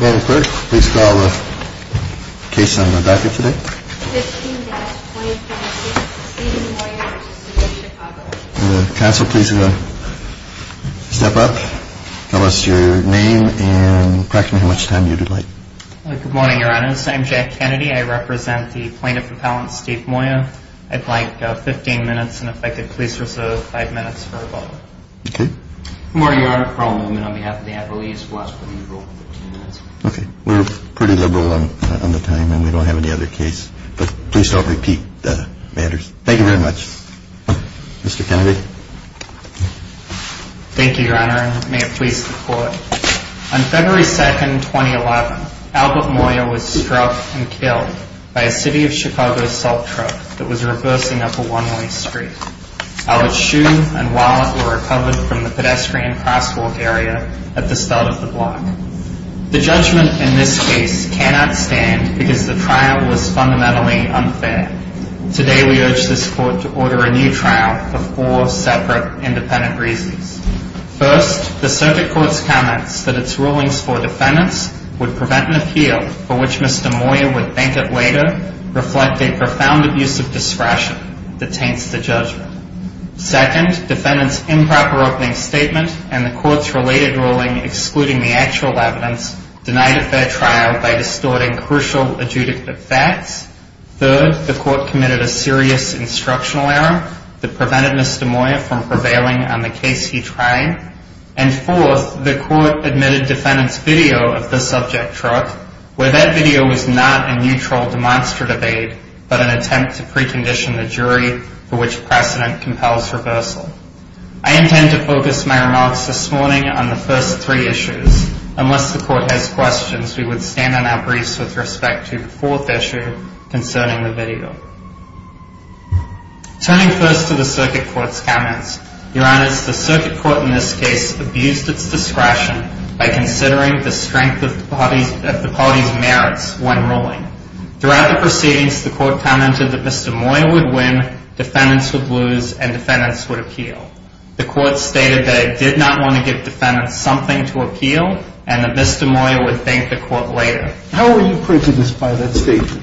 Madam Clerk, please call the case on the docket today. 15-2033, Steven Moya v. City of Chicago Council, please step up, tell us your name, and correct me how much time you delay. Good morning, Your Honors. I am Jack Kennedy. I represent the plaintiff appellant Steve Moya. I'd like 15 minutes, and if I could please reserve 5 minutes for a vote. Okay. Good morning, Your Honor. Carl Newman on behalf of the appellees. We'll ask for an interval of 15 minutes. Okay. We're pretty liberal on the time, and we don't have any other case. But please don't repeat the matters. Thank you very much. Mr. Kennedy. Thank you, Your Honor, and may it please the Court. On February 2, 2011, Albert Moya was struck and killed by a City of Chicago assault truck that was reversing up a one-way street. Albert's shoe and wallet were recovered from the pedestrian crosswalk area at the start of the block. The judgment in this case cannot stand because the trial was fundamentally unfair. Today, we urge this Court to order a new trial for four separate independent reasons. First, the circuit court's comments that its rulings for defendants would prevent an appeal for which Mr. Moya would thank it later reflect a profound abuse of discretion that taints the judgment. Second, defendants' improper opening statement and the Court's related ruling excluding the actual evidence denied a fair trial by distorting crucial adjudicative facts. Third, the Court committed a serious instructional error that prevented Mr. Moya from prevailing on the case he tried. And fourth, the Court admitted defendants' video of the subject truck, where that video was not a neutral demonstrative aid, but an attempt to precondition the jury for which precedent compels reversal. I intend to focus my remarks this morning on the first three issues. Unless the Court has questions, we would stand on our briefs with respect to the fourth issue concerning the video. Turning first to the circuit court's comments, Your Honors, the circuit court in this case abused its discretion by considering the strength of the party's merits when ruling. Throughout the proceedings, the Court commented that Mr. Moya would win, defendants would lose, and defendants would appeal. The Court stated that it did not want to give defendants something to appeal and that Mr. Moya would thank the Court later. How were you prejudiced by that statement?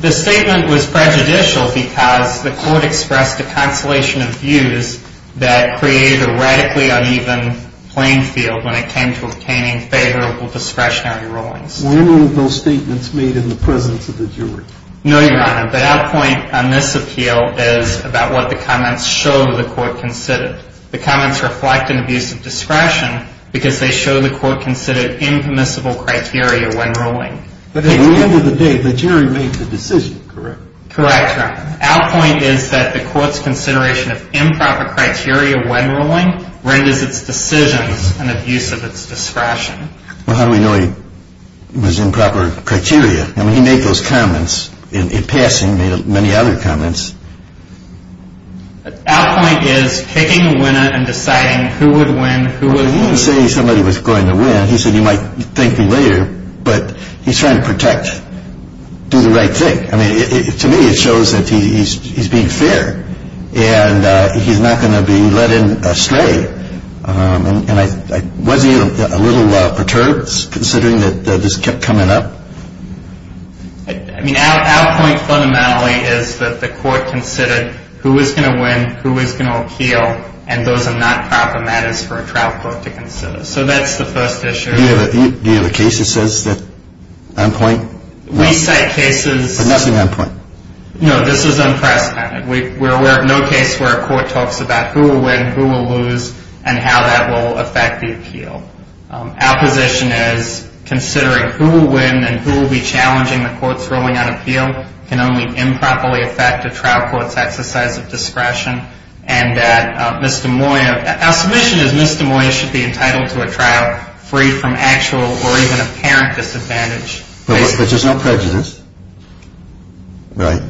The statement was prejudicial because the Court expressed a constellation of views that created a radically uneven playing field when it came to obtaining favorable discretionary rulings. Were any of those statements made in the presence of the jury? No, Your Honor, but our point on this appeal is about what the comments show the Court considered. The comments reflect an abuse of discretion because they show the Court considered impermissible criteria when ruling. But at the end of the day, the jury made the decision, correct? Correct, Your Honor. Our point is that the Court's consideration of improper criteria when ruling renders its decisions an abuse of its discretion. Well, how do we know he was improper criteria? I mean, he made those comments in passing, made many other comments. Our point is picking a winner and deciding who would win, who would lose. Well, he didn't say somebody was going to win. He said he might thank me later, but he's trying to protect, do the right thing. I mean, to me it shows that he's being fair and he's not going to be led astray. Was he a little perturbed considering that this kept coming up? I mean, our point fundamentally is that the Court considered who was going to win, who was going to appeal, and those are not proper matters for a trial court to consider. So that's the first issue. Do you have a case that says that? On point? We cite cases. But nothing on point. No, this is unprecedented. We're aware of no case where a court talks about who will win, who will lose, and how that will affect the appeal. Our position is considering who will win and who will be challenging the Court's ruling on appeal can only improperly affect a trial court's exercise of discretion. And that Mr. Moyer, our submission is Mr. Moyer should be entitled to a trial free from actual or even apparent disadvantage. But there's no prejudice? Right.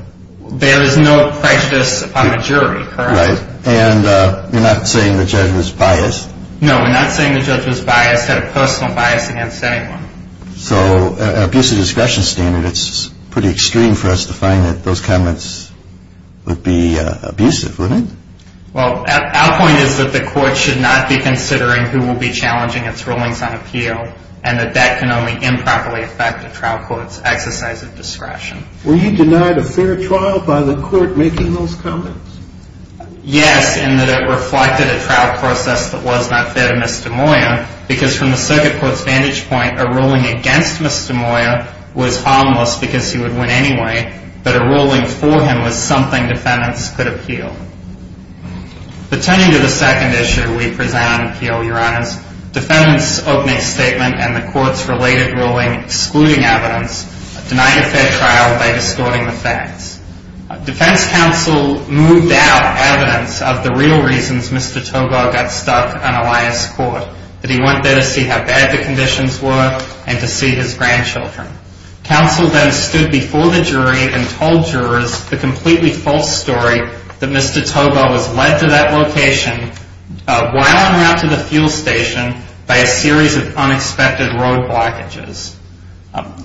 There is no prejudice upon the jury, correct? Right. And you're not saying the judge was biased? No, we're not saying the judge was biased. He had a personal bias against anyone. So an abusive discretion standard, it's pretty extreme for us to find that those comments would be abusive, wouldn't it? Well, our point is that the Court should not be considering who will be challenging its rulings on appeal and that that can only improperly affect a trial court's exercise of discretion. Were you denied a fair trial by the Court making those comments? Yes, in that it reflected a trial process that was not fair to Mr. Moyer because from the circuit court's vantage point, a ruling against Mr. Moyer was harmless because he would win anyway, but a ruling for him was something defendants could appeal. But turning to the second issue we present on appeal, Your Honors, defendants opening statement and the Court's related ruling excluding evidence, defense counsel moved out evidence of the real reasons Mr. Togar got stuck on Alliance Court, that he went there to see how bad the conditions were and to see his grandchildren. Counsel then stood before the jury and told jurors the completely false story that Mr. Togar was led to that location while en route to the fuel station by a series of unexpected road blockages.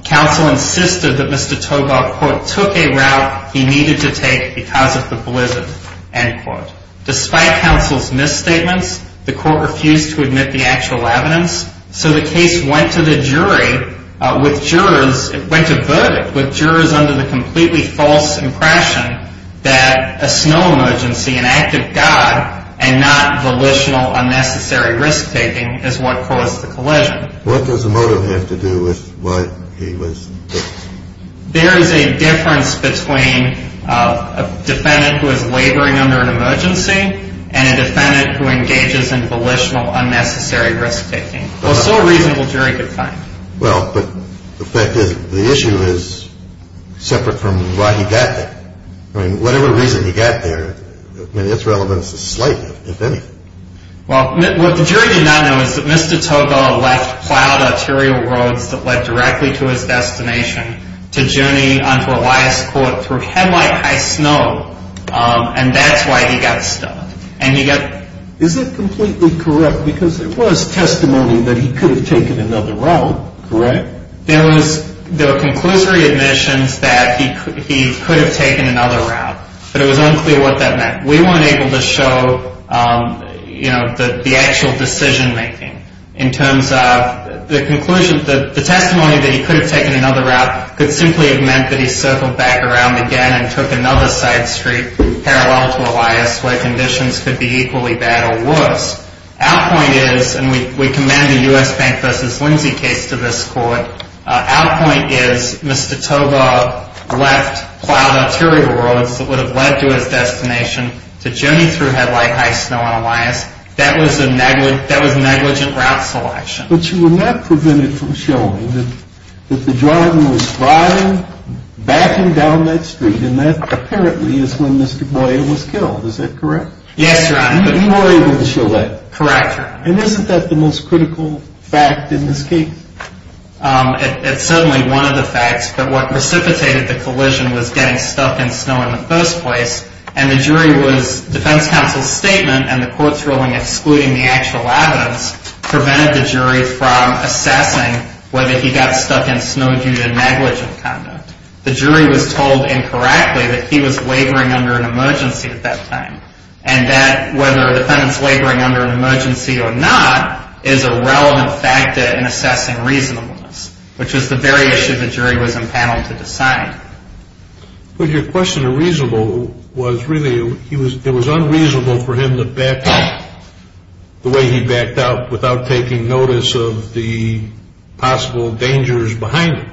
Counsel insisted that Mr. Togar, quote, took a route he needed to take because of the blizzard, end quote. Despite counsel's misstatements, the Court refused to admit the actual evidence, so the case went to the jury with jurors, went to verdict with jurors under the completely false impression that a snow emergency, an act of God and not volitional unnecessary risk-taking is what caused the collision. What does the motive have to do with why he was there? There is a difference between a defendant who is laboring under an emergency and a defendant who engages in volitional unnecessary risk-taking. Well, so a reasonable jury could find. Well, but the fact is the issue is separate from why he got there. I mean, whatever reason he got there, I mean, its relevance is slight, if any. Well, what the jury did not know is that Mr. Togar left plowed arterial roads that led directly to his destination to journey onto Elias Court through headlight high snow, and that's why he got stuck. Is it completely correct, because there was testimony that he could have taken another route, correct? There were conclusory admissions that he could have taken another route, but it was unclear what that meant. We weren't able to show, you know, the actual decision-making in terms of the conclusion, the testimony that he could have taken another route could simply have meant that he circled back around again and took another side street parallel to Elias where conditions could be equally bad or worse. Our point is, and we commend the U.S. Bank v. Lindsay case to this court, our point is Mr. Togar left plowed arterial roads that would have led to his destination to journey through headlight high snow on Elias. That was a negligent route selection. But you were not prevented from showing that the driver was driving back and down that street, and that apparently is when Mr. Boyer was killed, is that correct? Yes, Your Honor. You were able to show that. Correct, Your Honor. And isn't that the most critical fact in this case? It's certainly one of the facts, but what precipitated the collision was getting stuck in snow in the first place, and the jury was, defense counsel's statement and the court's ruling excluding the actual evidence prevented the jury from assessing whether he got stuck in snow due to negligent conduct. The jury was told incorrectly that he was laboring under an emergency at that time, and that whether a defendant's laboring under an emergency or not is a relevant factor in assessing reasonableness, which was the very issue the jury was empaneled to decide. But your question of reasonable was really, it was unreasonable for him to back up the way he backed up without taking notice of the possible dangers behind it.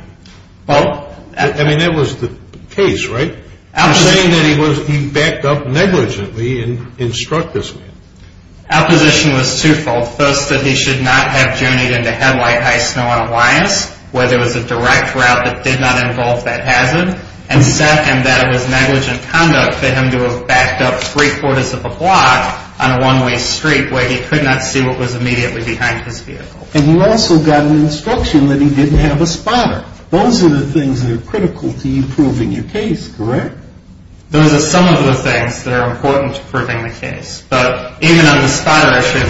Well. I mean, that was the case, right? You're saying that he backed up negligently and struck this man. Our position was two-fold. First, that he should not have journeyed into headlight high snow on a bias, where there was a direct route that did not involve that hazard, and second, that it was negligent conduct for him to have backed up three-quarters of a block on a one-way street where he could not see what was immediately behind his vehicle. And you also got an instruction that he didn't have a spotter. Those are the things that are critical to you proving your case, correct? Those are some of the things that are important to proving the case. But even on the spotter issue,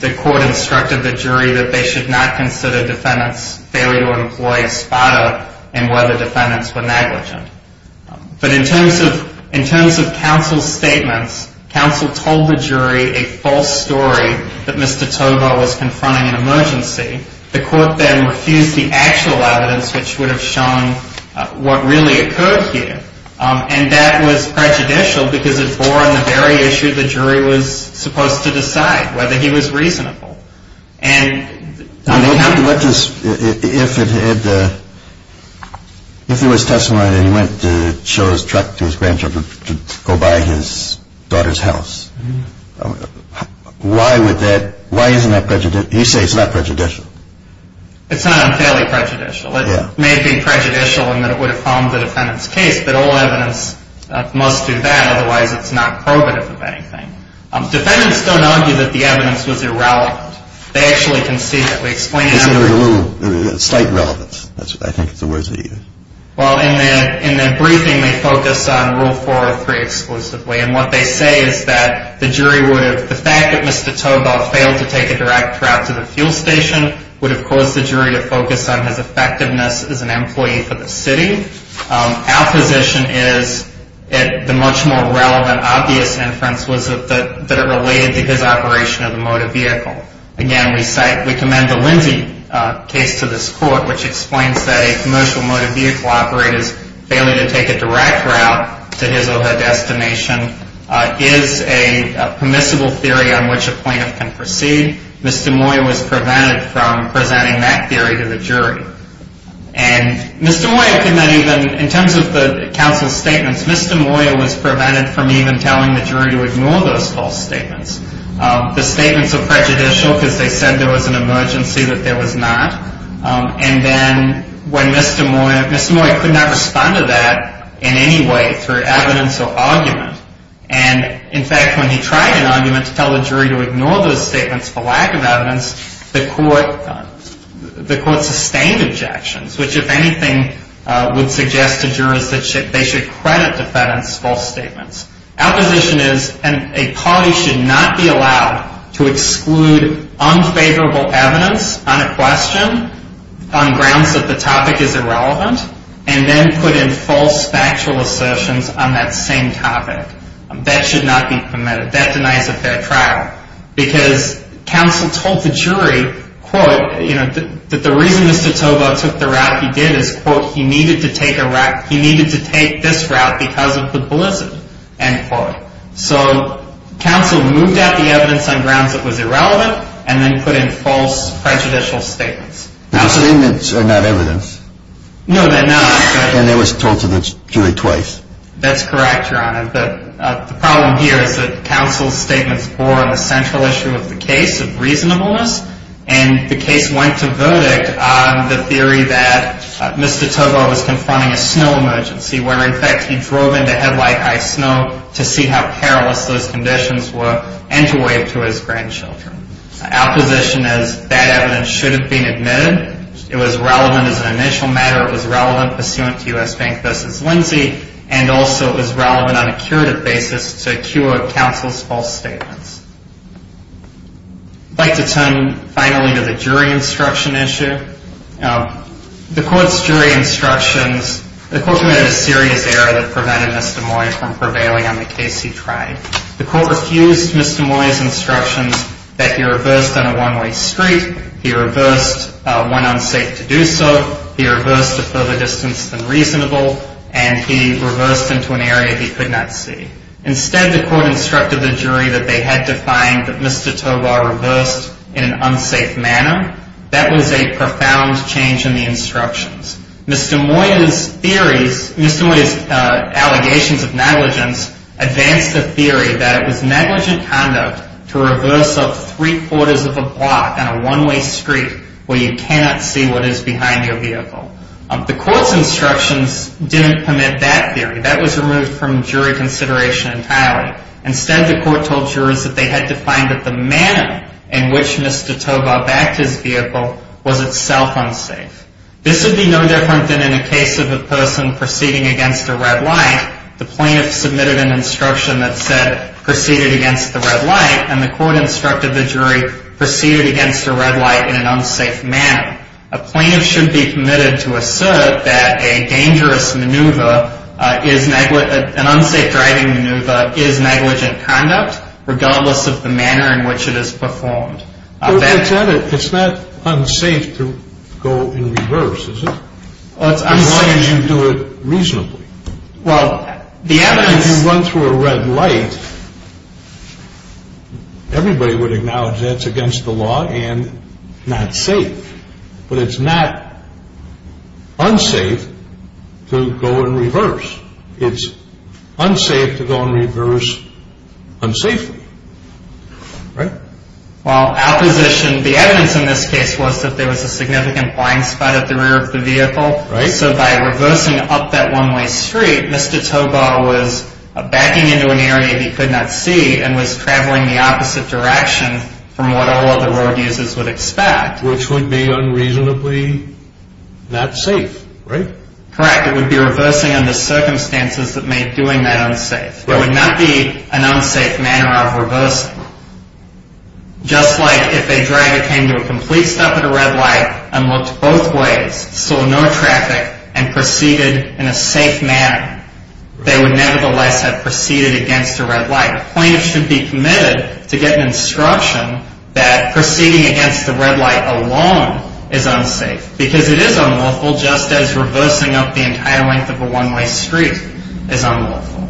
the court instructed the jury that they should not consider defendants' failure to employ a spotter and whether defendants were negligent. But in terms of counsel's statements, counsel told the jury a false story that Mr. Tovar was confronting an emergency. The court then refused the actual evidence which would have shown what really occurred here, and that was prejudicial because it bore on the very issue the jury was supposed to decide, whether he was reasonable. And I mean, what does – if it had – if there was testimony that he went to show his truck to his grandchildren to go by his daughter's house, why would that – why isn't that prejudicial? You say it's not prejudicial. It's not unfailingly prejudicial. It may be prejudicial in that it would have harmed the defendant's case, but all evidence must do that, otherwise it's not probative of anything. Defendants don't argue that the evidence was irrelevant. They actually can see that. We explain – They say there was a little – slight relevance. That's what I think is the words they use. Well, in their briefing, they focus on Rule 403 exclusively, and what they say is that the jury would have – the fact that Mr. Tobar failed to take a direct route to the fuel station would have caused the jury to focus on his effectiveness as an employee for the city. Our position is that the much more relevant, obvious inference was that it related to his operation of the motor vehicle. Again, we cite – we commend the Lindsay case to this court, which explains that a commercial motor vehicle operator's failure to take a direct route to his or her destination is a permissible theory on which a plaintiff can proceed. Mr. Moyer was prevented from presenting that theory to the jury. And Mr. Moyer could not even – in terms of the counsel's statements, Mr. Moyer was prevented from even telling the jury to ignore those false statements. The statements are prejudicial because they said there was an emergency, but there was not. And then when Mr. Moyer – Mr. Moyer could not respond to that in any way through evidence or argument. And, in fact, when he tried an argument to tell the jury to ignore those statements for lack of evidence, the court – the court sustained objections, which, if anything, would suggest to jurors that they should credit the defendants' false statements. Our position is a party should not be allowed to exclude unfavorable evidence on a question on grounds that the topic is irrelevant, and then put in false factual assertions on that same topic. That should not be permitted. That denies a fair trial. Because counsel told the jury, quote, you know, that the reason Mr. Toboe took the route he did is, quote, he needed to take a – he needed to take this route because of the blizzard, end quote. So counsel moved out the evidence on grounds that was irrelevant, and then put in false prejudicial statements. The statements are not evidence. No, they're not. And they were told to the jury twice. That's correct, Your Honor. But the problem here is that counsel's statements bore on the central issue of the case of reasonableness, and the case went to verdict on the theory that Mr. Toboe was confronting a snow emergency, where, in fact, he drove into headlight high snow to see how perilous those conditions were and to wave to his grandchildren. Our position is that evidence should have been admitted. It was relevant as an initial matter. It was relevant pursuant to U.S. Bank v. Lindsay, and also it was relevant on a curative basis to a cure of counsel's false statements. I'd like to turn, finally, to the jury instruction issue. The court's jury instructions – the court committed a serious error that prevented Mr. Moyer from prevailing on the case he tried. The court refused Mr. Moyer's instructions that he reversed on a one-way street, he reversed when unsafe to do so, he reversed a further distance than reasonable, and he reversed into an area he could not see. Instead, the court instructed the jury that they had to find that Mr. Toboe reversed in an unsafe manner. That was a profound change in the instructions. Mr. Moyer's theories – Mr. Moyer's allegations of negligence advanced the theory that it was negligent conduct to reverse up three-quarters of a block on a one-way street where you cannot see what is behind your vehicle. The court's instructions didn't permit that theory. That was removed from jury consideration entirely. Instead, the court told jurors that they had to find that the manner in which Mr. Toboe backed his vehicle was itself unsafe. This would be no different than in a case of a person proceeding against a red light. The plaintiff submitted an instruction that said, proceeded against the red light, and the court instructed the jury, proceeded against the red light in an unsafe manner. A plaintiff should be permitted to assert that an unsafe driving maneuver is negligent conduct, regardless of the manner in which it is performed. It's not unsafe to go in reverse, is it? Why didn't you do it reasonably? Well, the evidence… If you run through a red light, everybody would acknowledge that it's against the law and not safe. But it's not unsafe to go in reverse. It's unsafe to go in reverse unsafely, right? Well, our position, the evidence in this case was that there was a significant blind spot at the rear of the vehicle. So by reversing up that one-way street, Mr. Toboe was backing into an area he could not see and was traveling the opposite direction from what all other road users would expect. Which would be unreasonably not safe, right? Correct. It would be reversing under circumstances that made doing that unsafe. There would not be an unsafe manner of reversing. Just like if a driver came to a complete stop at a red light and looked both ways, saw no traffic, and proceeded in a safe manner, they would nevertheless have proceeded against a red light. A plaintiff should be committed to get an instruction that proceeding against a red light alone is unsafe. Because it is unlawful, just as reversing up the entire length of a one-way street is unlawful.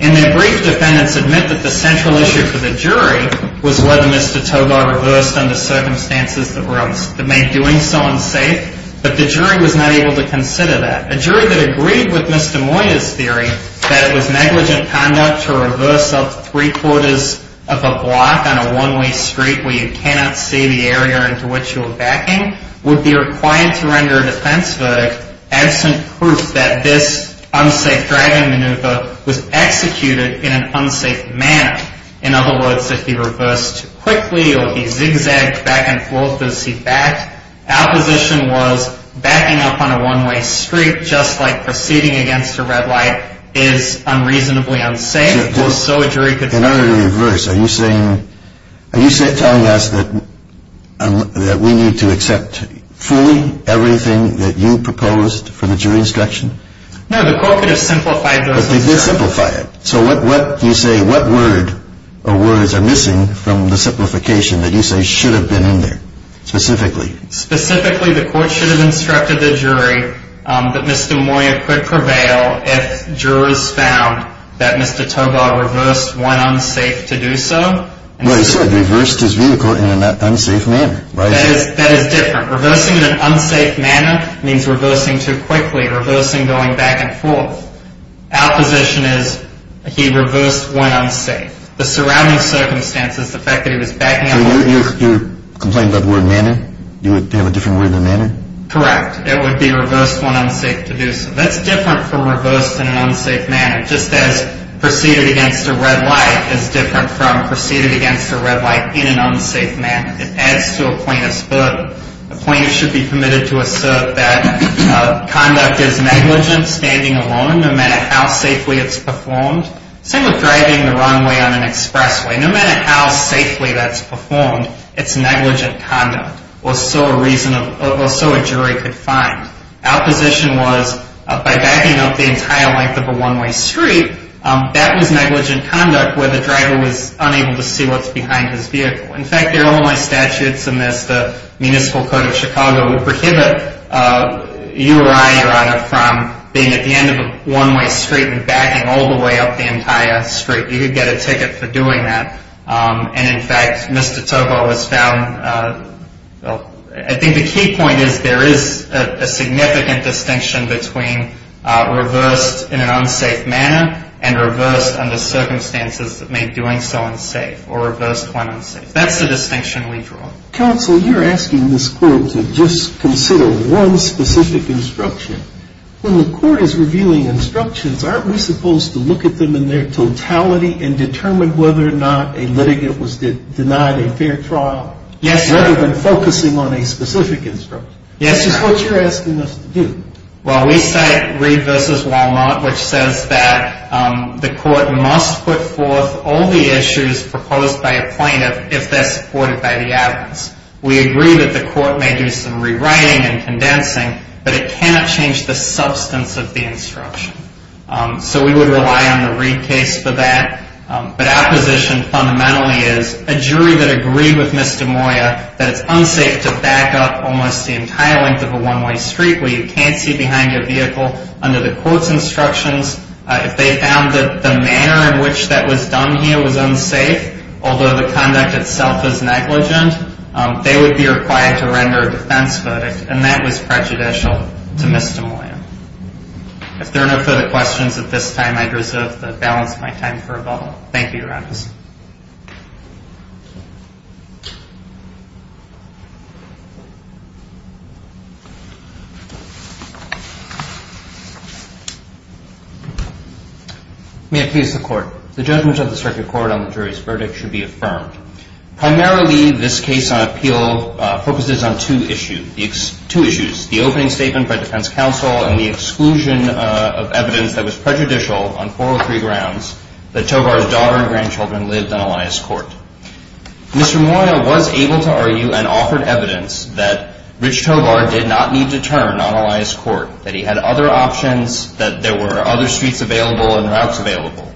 In their brief, defendants admit that the central issue for the jury was whether Mr. Toboe reversed under circumstances that made doing so unsafe. But the jury was not able to consider that. A jury that agreed with Mr. Moyer's theory that it was negligent conduct to reverse up three-quarters of a block on a one-way street where you cannot see the area into which you were backing would be required to render a defense verdict absent proof that this unsafe driving maneuver was executed in an unsafe manner. In other words, if he reversed too quickly or he zigzagged back and forth as he backed, our position was backing up on a one-way street, just like proceeding against a red light, is unreasonably unsafe. In order to reverse, are you telling us that we need to accept fully everything that you proposed for the jury instruction? No, the court could have simplified those instructions. But they did simplify it. So what word or words are missing from the simplification that you say should have been in there, specifically? Specifically, the court should have instructed the jury that Mr. Moyer could prevail if jurors found that Mr. Tobar reversed when unsafe to do so. Well, he said reversed his vehicle in an unsafe manner, right? That is different. Reversing in an unsafe manner means reversing too quickly, reversing going back and forth. Our position is he reversed when unsafe. The surrounding circumstances, the fact that he was backing up on a one-way street… So you're complaining about the word manner? Do you have a different word than manner? Correct. It would be reversed when unsafe to do so. That's different from reversed in an unsafe manner. Just as proceeded against a red light is different from proceeded against a red light in an unsafe manner. It adds to a plaintiff's book. A plaintiff should be committed to assert that conduct is negligent, standing alone, no matter how safely it's performed. Same with driving the wrong way on an expressway. No matter how safely that's performed, it's negligent conduct, or so a jury could find. Our position was, by backing up the entire length of a one-way street, that was negligent conduct where the driver was unable to see what's behind his vehicle. In fact, there are only statutes in this, the Municipal Code of Chicago, that prohibit you or I, Your Honor, from being at the end of a one-way street and backing all the way up the entire street. You could get a ticket for doing that. And in fact, Mr. Tovo has found, I think the key point is there is a significant distinction between reversed in an unsafe manner and reversed under circumstances that make doing so unsafe, or reversed when unsafe. That's the distinction we draw. Counsel, you're asking this court to just consider one specific instruction. When the court is reviewing instructions, aren't we supposed to look at them in their totality and determine whether or not a litigant was denied a fair trial? Yes, sir. Rather than focusing on a specific instruction. Yes, sir. That's just what you're asking us to do. Well, we cite Reed v. Walnut, which says that the court must put forth all the issues proposed by a plaintiff if they're supported by the evidence. We agree that the court may do some rewriting and condensing, but it cannot change the substance of the instruction. So we would rely on the Reed case for that. But our position fundamentally is a jury that agreed with Ms. DeMoya that it's unsafe to back up almost the entire length of a one-way street where you can't see behind your vehicle under the court's instructions. If they found that the manner in which that was done here was unsafe, although the conduct itself is negligent, they would be required to render a defense verdict. And that was prejudicial to Ms. DeMoya. If there are no further questions at this time, I'd reserve the balance of my time for rebuttal. Thank you, Your Honor. May it please the Court. The judgment of the circuit court on the jury's verdict should be affirmed. Primarily, this case on appeal focuses on two issues, the opening statement by defense counsel and the exclusion of evidence that was prejudicial on four or three grounds that Tovar's daughter and grandchildren lived on Elias Court. Mr. Moya was able to argue and offered evidence that Rich Tovar did not need to turn on Elias Court, that he had other options, that there were other streets available and routes available.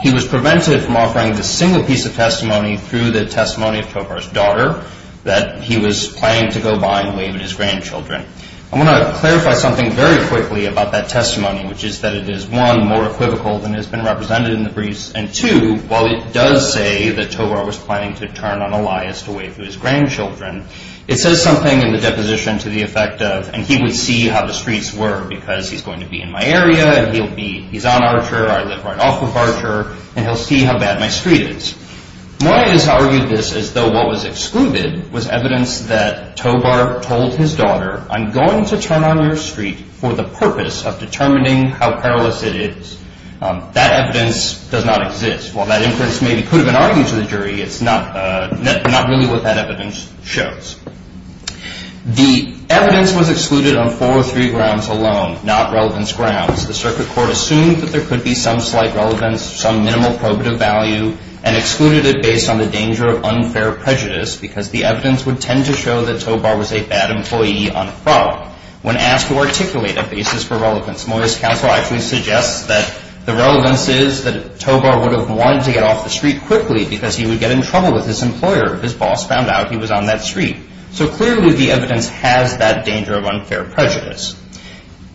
He was prevented from offering a single piece of testimony through the testimony of Tovar's daughter that he was planning to go by and wave at his grandchildren. I want to clarify something very quickly about that testimony, which is that it is, one, more equivocal than has been represented in the briefs, and two, while it does say that Tovar was planning to turn on Elias to wave to his grandchildren, it says something in the deposition to the effect of, and he would see how the streets were because he's going to be in my area and he'll be, he's on Archer, I live right off of Archer, and he'll see how bad my street is. Moya has argued this as though what was excluded was evidence that Tovar told his daughter, I'm going to turn on your street for the purpose of determining how perilous it is. That evidence does not exist. While that inference maybe could have been argued to the jury, it's not really what that evidence shows. The evidence was excluded on four or three grounds alone, not relevance grounds. The circuit court assumed that there could be some slight relevance, some minimal probative value, and excluded it based on the danger of unfair prejudice because the evidence would tend to show that Tovar was a bad employee on fraud. When asked to articulate a basis for relevance, Moya's counsel actually suggests that the relevance is that Tovar would have wanted to get off the street quickly because he would get in trouble with his employer if his boss found out he was on that street. So clearly the evidence has that danger of unfair prejudice.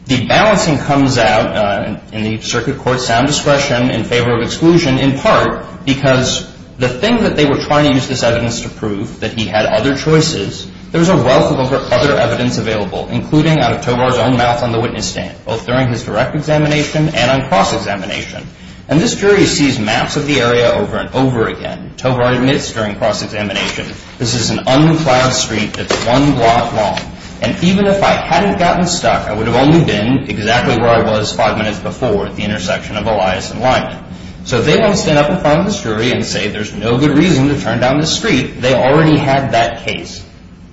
The balancing comes out in the circuit court's sound discretion in favor of exclusion in part because the thing that they were trying to use this evidence to prove, that he had other choices, there's a wealth of other evidence available, including out of Tovar's own mouth on the witness stand, both during his direct examination and on cross-examination. And this jury sees maps of the area over and over again. Tovar admits during cross-examination, this is an unplanned street that's one block long. And even if I hadn't gotten stuck, I would have only been exactly where I was five minutes before at the intersection of Elias and Lyman. So if they want to stand up in front of this jury and say there's no good reason to turn down this street, they already had that case.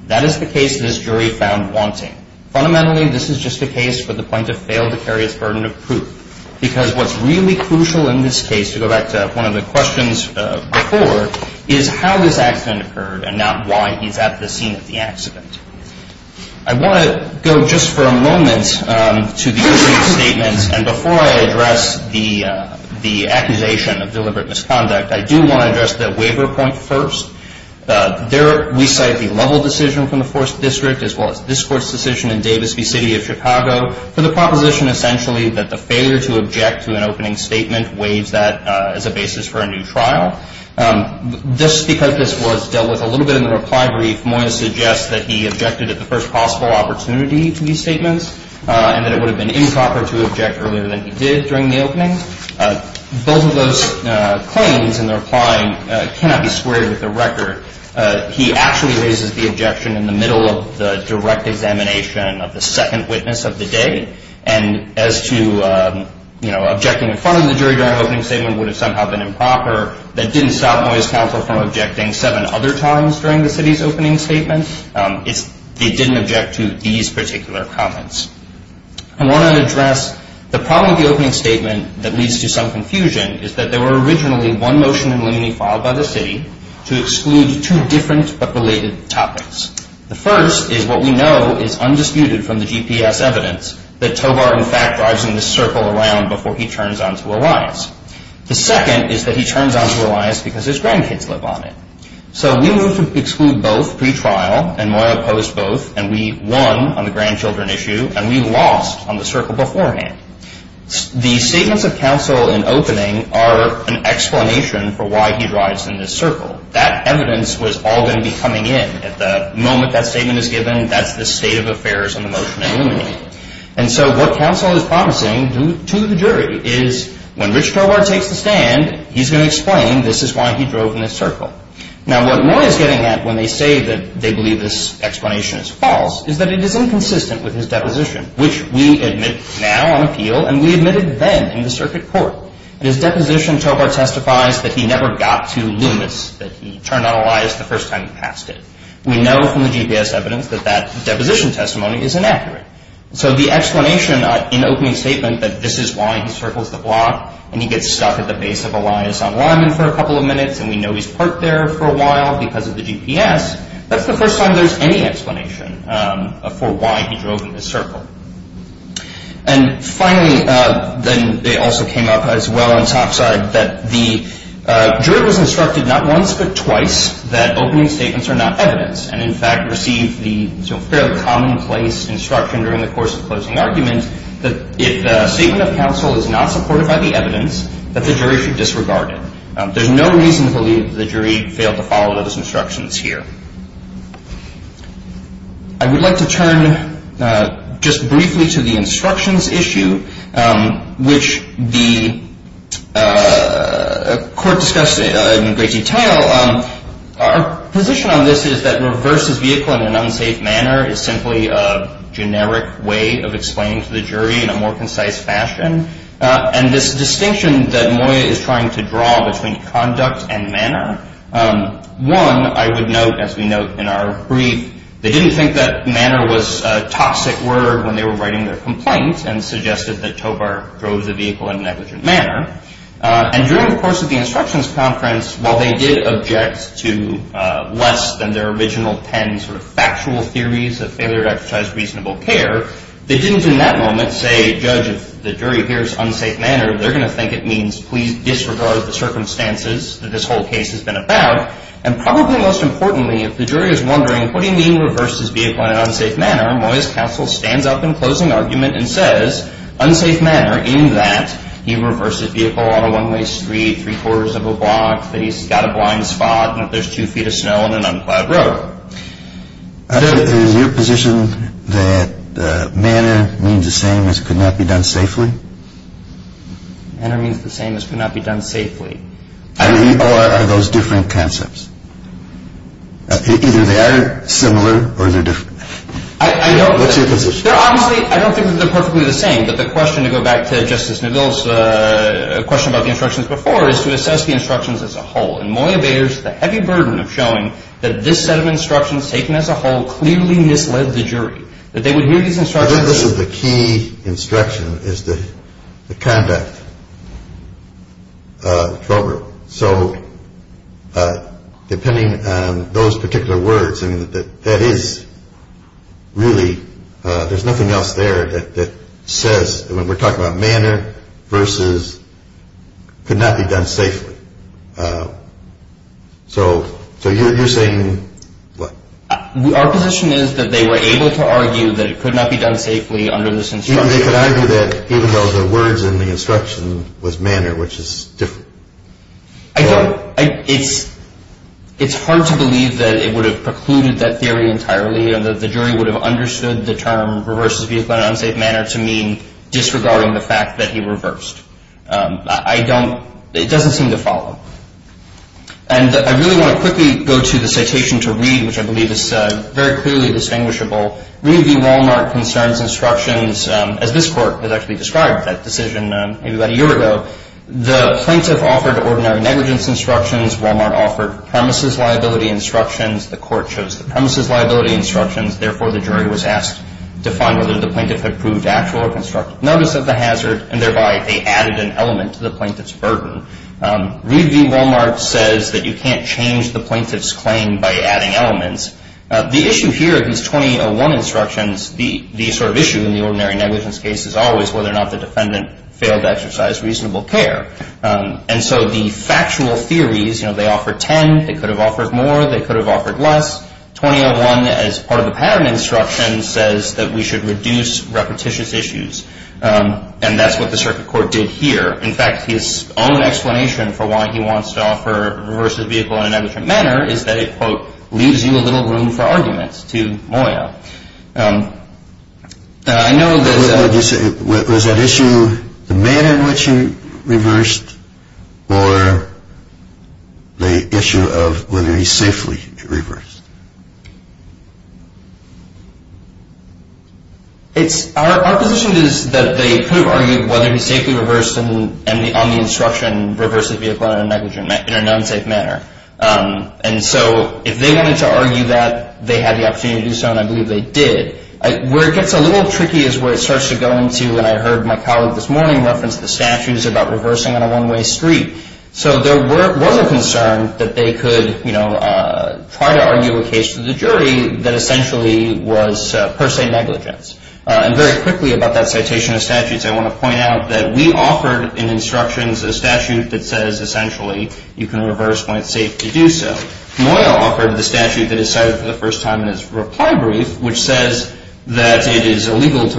That is the case this jury found wanting. Fundamentally, this is just a case for the plaintiff to fail to carry his burden of proof because what's really crucial in this case, to go back to one of the questions before, is how this accident occurred and not why he's at the scene of the accident. I want to go just for a moment to the opening statements. And before I address the accusation of deliberate misconduct, I do want to address the waiver point first. We cite the Lovell decision from the 4th District as well as this court's decision in Davis v. City of Chicago for the proposition essentially that the failure to object to an opening statement waives that as a basis for a new trial. Just because this was dealt with a little bit in the reply brief, more to suggest that he objected at the first possible opportunity to these statements and that it would have been improper to object earlier than he did during the opening. Both of those claims in the reply cannot be squared with the record. He actually raises the objection in the middle of the direct examination of the second witness of the day. And as to, you know, objecting in front of the jury during an opening statement would have somehow been improper. That didn't stop Moy's counsel from objecting seven other times during the city's opening statement. It didn't object to these particular comments. I want to address the problem with the opening statement that leads to some confusion is that there were originally one motion in limine filed by the city to exclude two different but related topics. The first is what we know is undisputed from the GPS evidence that Tobar, in fact, drives in this circle around before he turns on to Elias. The second is that he turns on to Elias because his grandkids live on it. So we moved to exclude both pre-trial and Moy opposed both, and we won on the grandchildren issue and we lost on the circle beforehand. The statements of counsel in opening are an explanation for why he drives in this circle. That evidence was all going to be coming in at the moment that statement is given. That's the state of affairs in the motion in limine. And so what counsel is promising to the jury is when Rich Tobar takes the stand, he's going to explain this is why he drove in this circle. Now, what Moy is getting at when they say that they believe this explanation is false is that it is inconsistent with his deposition, which we admit now on appeal, and we admitted then in the circuit court. In his deposition, Tobar testifies that he never got to Loomis, that he turned on Elias the first time he passed it. We know from the GPS evidence that that deposition testimony is inaccurate. So the explanation in opening statement that this is why he circles the block and he gets stuck at the base of Elias on limine for a couple of minutes and we know he's parked there for a while because of the GPS, that's the first time there's any explanation for why he drove in this circle. And finally, then they also came up as well on topside that the jury was instructed not once but twice that opening statements are not evidence and in fact received the fairly commonplace instruction during the course of closing argument that if the statement of counsel is not supported by the evidence, that the jury should disregard it. There's no reason to believe the jury failed to follow those instructions here. I would like to turn just briefly to the instructions issue, which the court discussed in great detail. Our position on this is that reverses vehicle in an unsafe manner is simply a generic way of explaining to the jury in a more concise fashion. And this distinction that Moya is trying to draw between conduct and manner, one, I would note, as we note in our brief, they didn't think that manner was a toxic word when they were writing their complaint and suggested that Tobar drove the vehicle in a negligent manner. And during the course of the instructions conference, while they did object to less than their original 10 sort of factual theories of failure to exercise reasonable care, they didn't in that moment say, judge, if the jury hears unsafe manner, they're going to think it means please disregard the circumstances that this whole case has been about. And probably most importantly, if the jury is wondering, what do you mean reverses vehicle in an unsafe manner, Moya's counsel stands up in closing argument and says unsafe manner in that he reversed his vehicle on a one-way street, three-quarters of a block, that he's got a blind spot, and that there's two feet of snow and an unclad road. Is your position that manner means the same as could not be done safely? Manner means the same as could not be done safely. Are those different concepts? Either they are similar or they're different. What's your position? I don't think they're perfectly the same. But the question, to go back to Justice Neville's question about the instructions before, is to assess the instructions as a whole. And Moya bears the heavy burden of showing that this set of instructions taken as a whole clearly misled the jury, that they would hear these instructions. I think this is the key instruction is the conduct, Tobar. So depending on those particular words, that is really, there's nothing else there that says, when we're talking about manner versus could not be done safely. So you're saying what? Our position is that they were able to argue that it could not be done safely under this instruction. They could argue that even though the words in the instruction was manner, which is different. I don't, it's hard to believe that it would have precluded that theory entirely and that the jury would have understood the term reverses vehicle in an unsafe manner to mean disregarding the fact that he reversed. I don't, it doesn't seem to follow. And I really want to quickly go to the citation to read, which I believe is very clearly distinguishable. Reed v. Wal-Mart concerns instructions, as this court has actually described that decision maybe about a year ago. The plaintiff offered ordinary negligence instructions. Wal-Mart offered premises liability instructions. The court chose the premises liability instructions. Therefore, the jury was asked to find whether the plaintiff had proved actual or constructive notice of the hazard, and thereby they added an element to the plaintiff's burden. Reed v. Wal-Mart says that you can't change the plaintiff's claim by adding elements. The issue here of these 2801 instructions, the sort of issue in the ordinary negligence case, is always whether or not the defendant failed to exercise reasonable care. And so the factual theories, you know, they offered 10, they could have offered more, they could have offered less. 2801, as part of the patent instruction, says that we should reduce repetitious issues. And that's what the circuit court did here. In fact, his own explanation for why he wants to offer reverses vehicle in a negligent manner is that it, quote, leaves you a little room for arguments, to Moya. I know there's a – Was that issue the manner in which he reversed or the issue of whether he safely reversed? It's – our position is that they could have argued whether he safely reversed and on the instruction reversed the vehicle in a negligent – in a non-safe manner. And so if they wanted to argue that, they had the opportunity to do so, and I believe they did. Where it gets a little tricky is where it starts to go into, and I heard my colleague this morning reference the statutes about reversing on a one-way street. So there was a concern that they could, you know, try to argue a case to the jury that essentially was per se negligence. And very quickly about that citation of statutes, I want to point out that we offered in instructions a statute that says, essentially, you can reverse when it's safe to do so. Moya offered the statute that is cited for the first time in his reply brief, which says that it is illegal to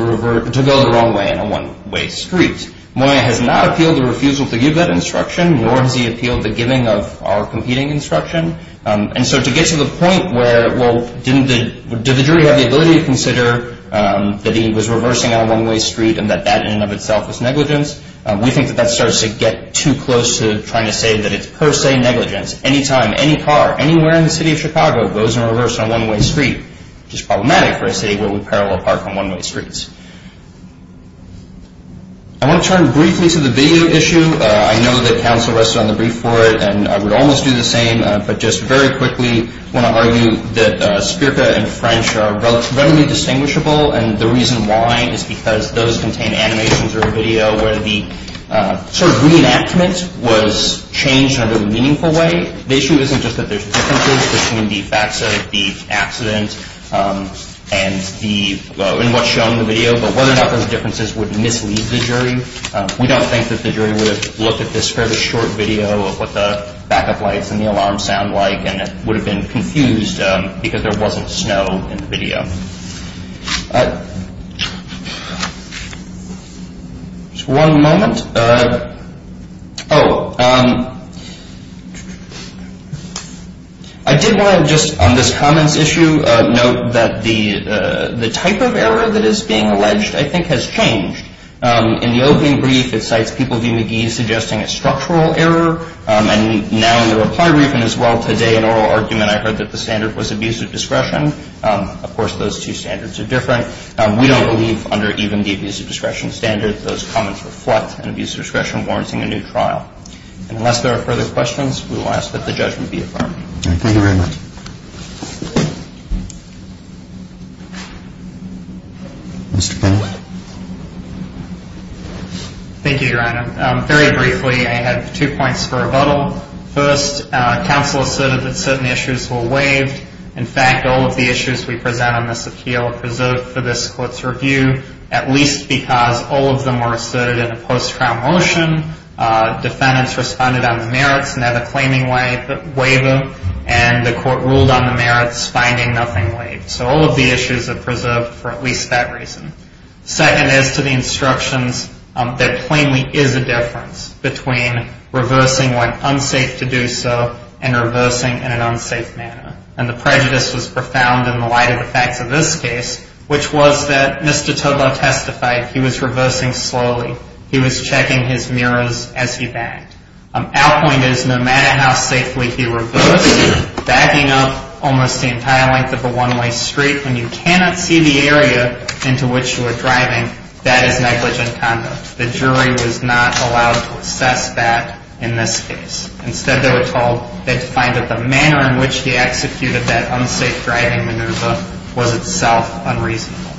go the wrong way on a one-way street. Moya has not appealed the refusal to give that instruction, nor has he appealed the giving of our competing instruction. And so to get to the point where, well, didn't the – did the jury have the ability to consider that he was reversing on a one-way street and that that in and of itself was negligence? We think that that starts to get too close to trying to say that it's per se negligence. Any time, any car, anywhere in the city of Chicago goes in reverse on a one-way street, which is problematic for a city where we parallel park on one-way streets. I want to turn briefly to the video issue. I know that counsel rested on the brief for it, and I would almost do the same. But just very quickly, I want to argue that SPERCA and French are relatively distinguishable, and the reason why is because those contain animations or video where the sort of reenactment was changed in a meaningful way. The issue isn't just that there's differences between the facts of the accident and what's shown in the video, but whether or not those differences would mislead the jury. We don't think that the jury would have looked at this fairly short video of what the backup lights and the alarm sound like, and it would have been confused because there wasn't snow in the video. Just one moment. Oh. I did want to just on this comments issue note that the type of error that is being alleged, I think, has changed. In the opening brief, it cites people v. McGee suggesting a structural error, and now in the reply brief and as well today in oral argument, I heard that the standard was abusive discretion. Of course, those two standards are different. We don't believe under even the abusive discretion standard, those comments reflect an abusive discretion warranting a new trial. And unless there are further questions, we will ask that the judgment be affirmed. Mr. Penwood. Thank you, Your Honor. Very briefly, I have two points for rebuttal. First, counsel asserted that certain issues were waived. In fact, all of the issues we present on this appeal are preserved for this court's review, at least because all of them were asserted in a post-trial motion. Defendants responded on the merits and had a claiming waiver, and the court ruled on the merits, finding nothing waived. So all of the issues are preserved for at least that reason. Second, as to the instructions, there plainly is a difference between reversing when unsafe to do so and reversing in an unsafe manner. And the prejudice was profound in the light of the facts of this case, which was that Mr. Todlow testified he was reversing slowly. He was checking his mirrors as he backed. Our point is no matter how safely he reversed, backing up almost the entire length of a one-way street when you cannot see the area into which you are driving, that is negligent conduct. The jury was not allowed to assess that in this case. Instead, they were told they'd find that the manner in which he executed that unsafe driving maneuver was itself unreasonable.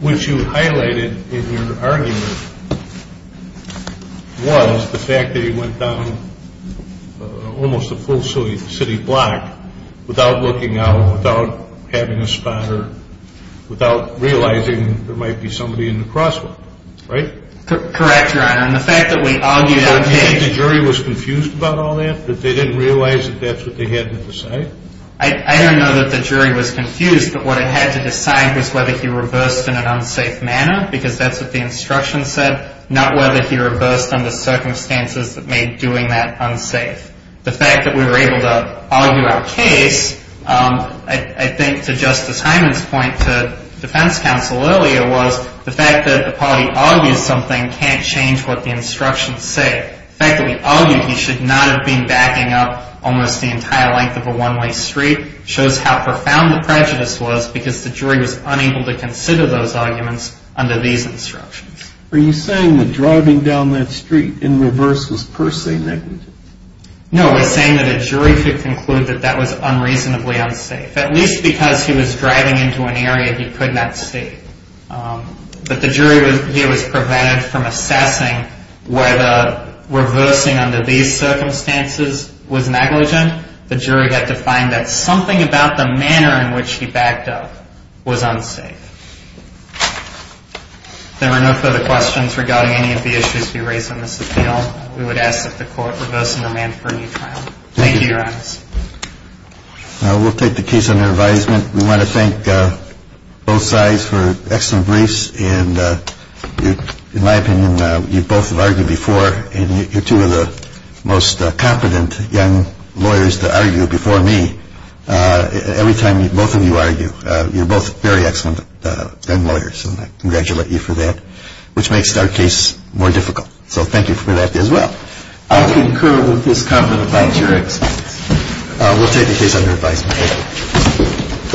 Which you highlighted in your argument was the fact that he went down almost a full city block without looking out, without having a spotter, without realizing there might be somebody in the crosswalk. Right? Correct, Your Honor. And the fact that we argued on page... Do you think the jury was confused about all that, that they didn't realize that that's what they had to decide? I don't know that the jury was confused, but what it had to decide was whether he reversed in an unsafe manner, because that's what the instructions said, not whether he reversed under circumstances that made doing that unsafe. The fact that we were able to argue our case, I think to Justice Hyman's point to defense counsel earlier, was the fact that the party argues something can't change what the instructions say. The fact that we argued he should not have been backing up almost the entire length of a one-way street shows how profound the prejudice was because the jury was unable to consider those arguments under these instructions. Are you saying that driving down that street in reverse was per se negligent? No, we're saying that a jury could conclude that that was unreasonably unsafe, at least because he was driving into an area he could not see. But the jury here was prevented from assessing whether reversing under these circumstances was negligent. The jury had to find that something about the manner in which he backed up was unsafe. If there are no further questions regarding any of the issues we raised on this appeal, we would ask that the Court reverse and amend for a new trial. Thank you, Your Honor. We'll take the case under advisement. We want to thank both sides for excellent briefs. In my opinion, you both have argued before, and you're two of the most competent young lawyers to argue before me. Every time both of you argue, you're both very excellent young lawyers, and I congratulate you for that, which makes our case more difficult. So thank you for that as well. I concur with his comment about your experience. We'll take the case under advisement.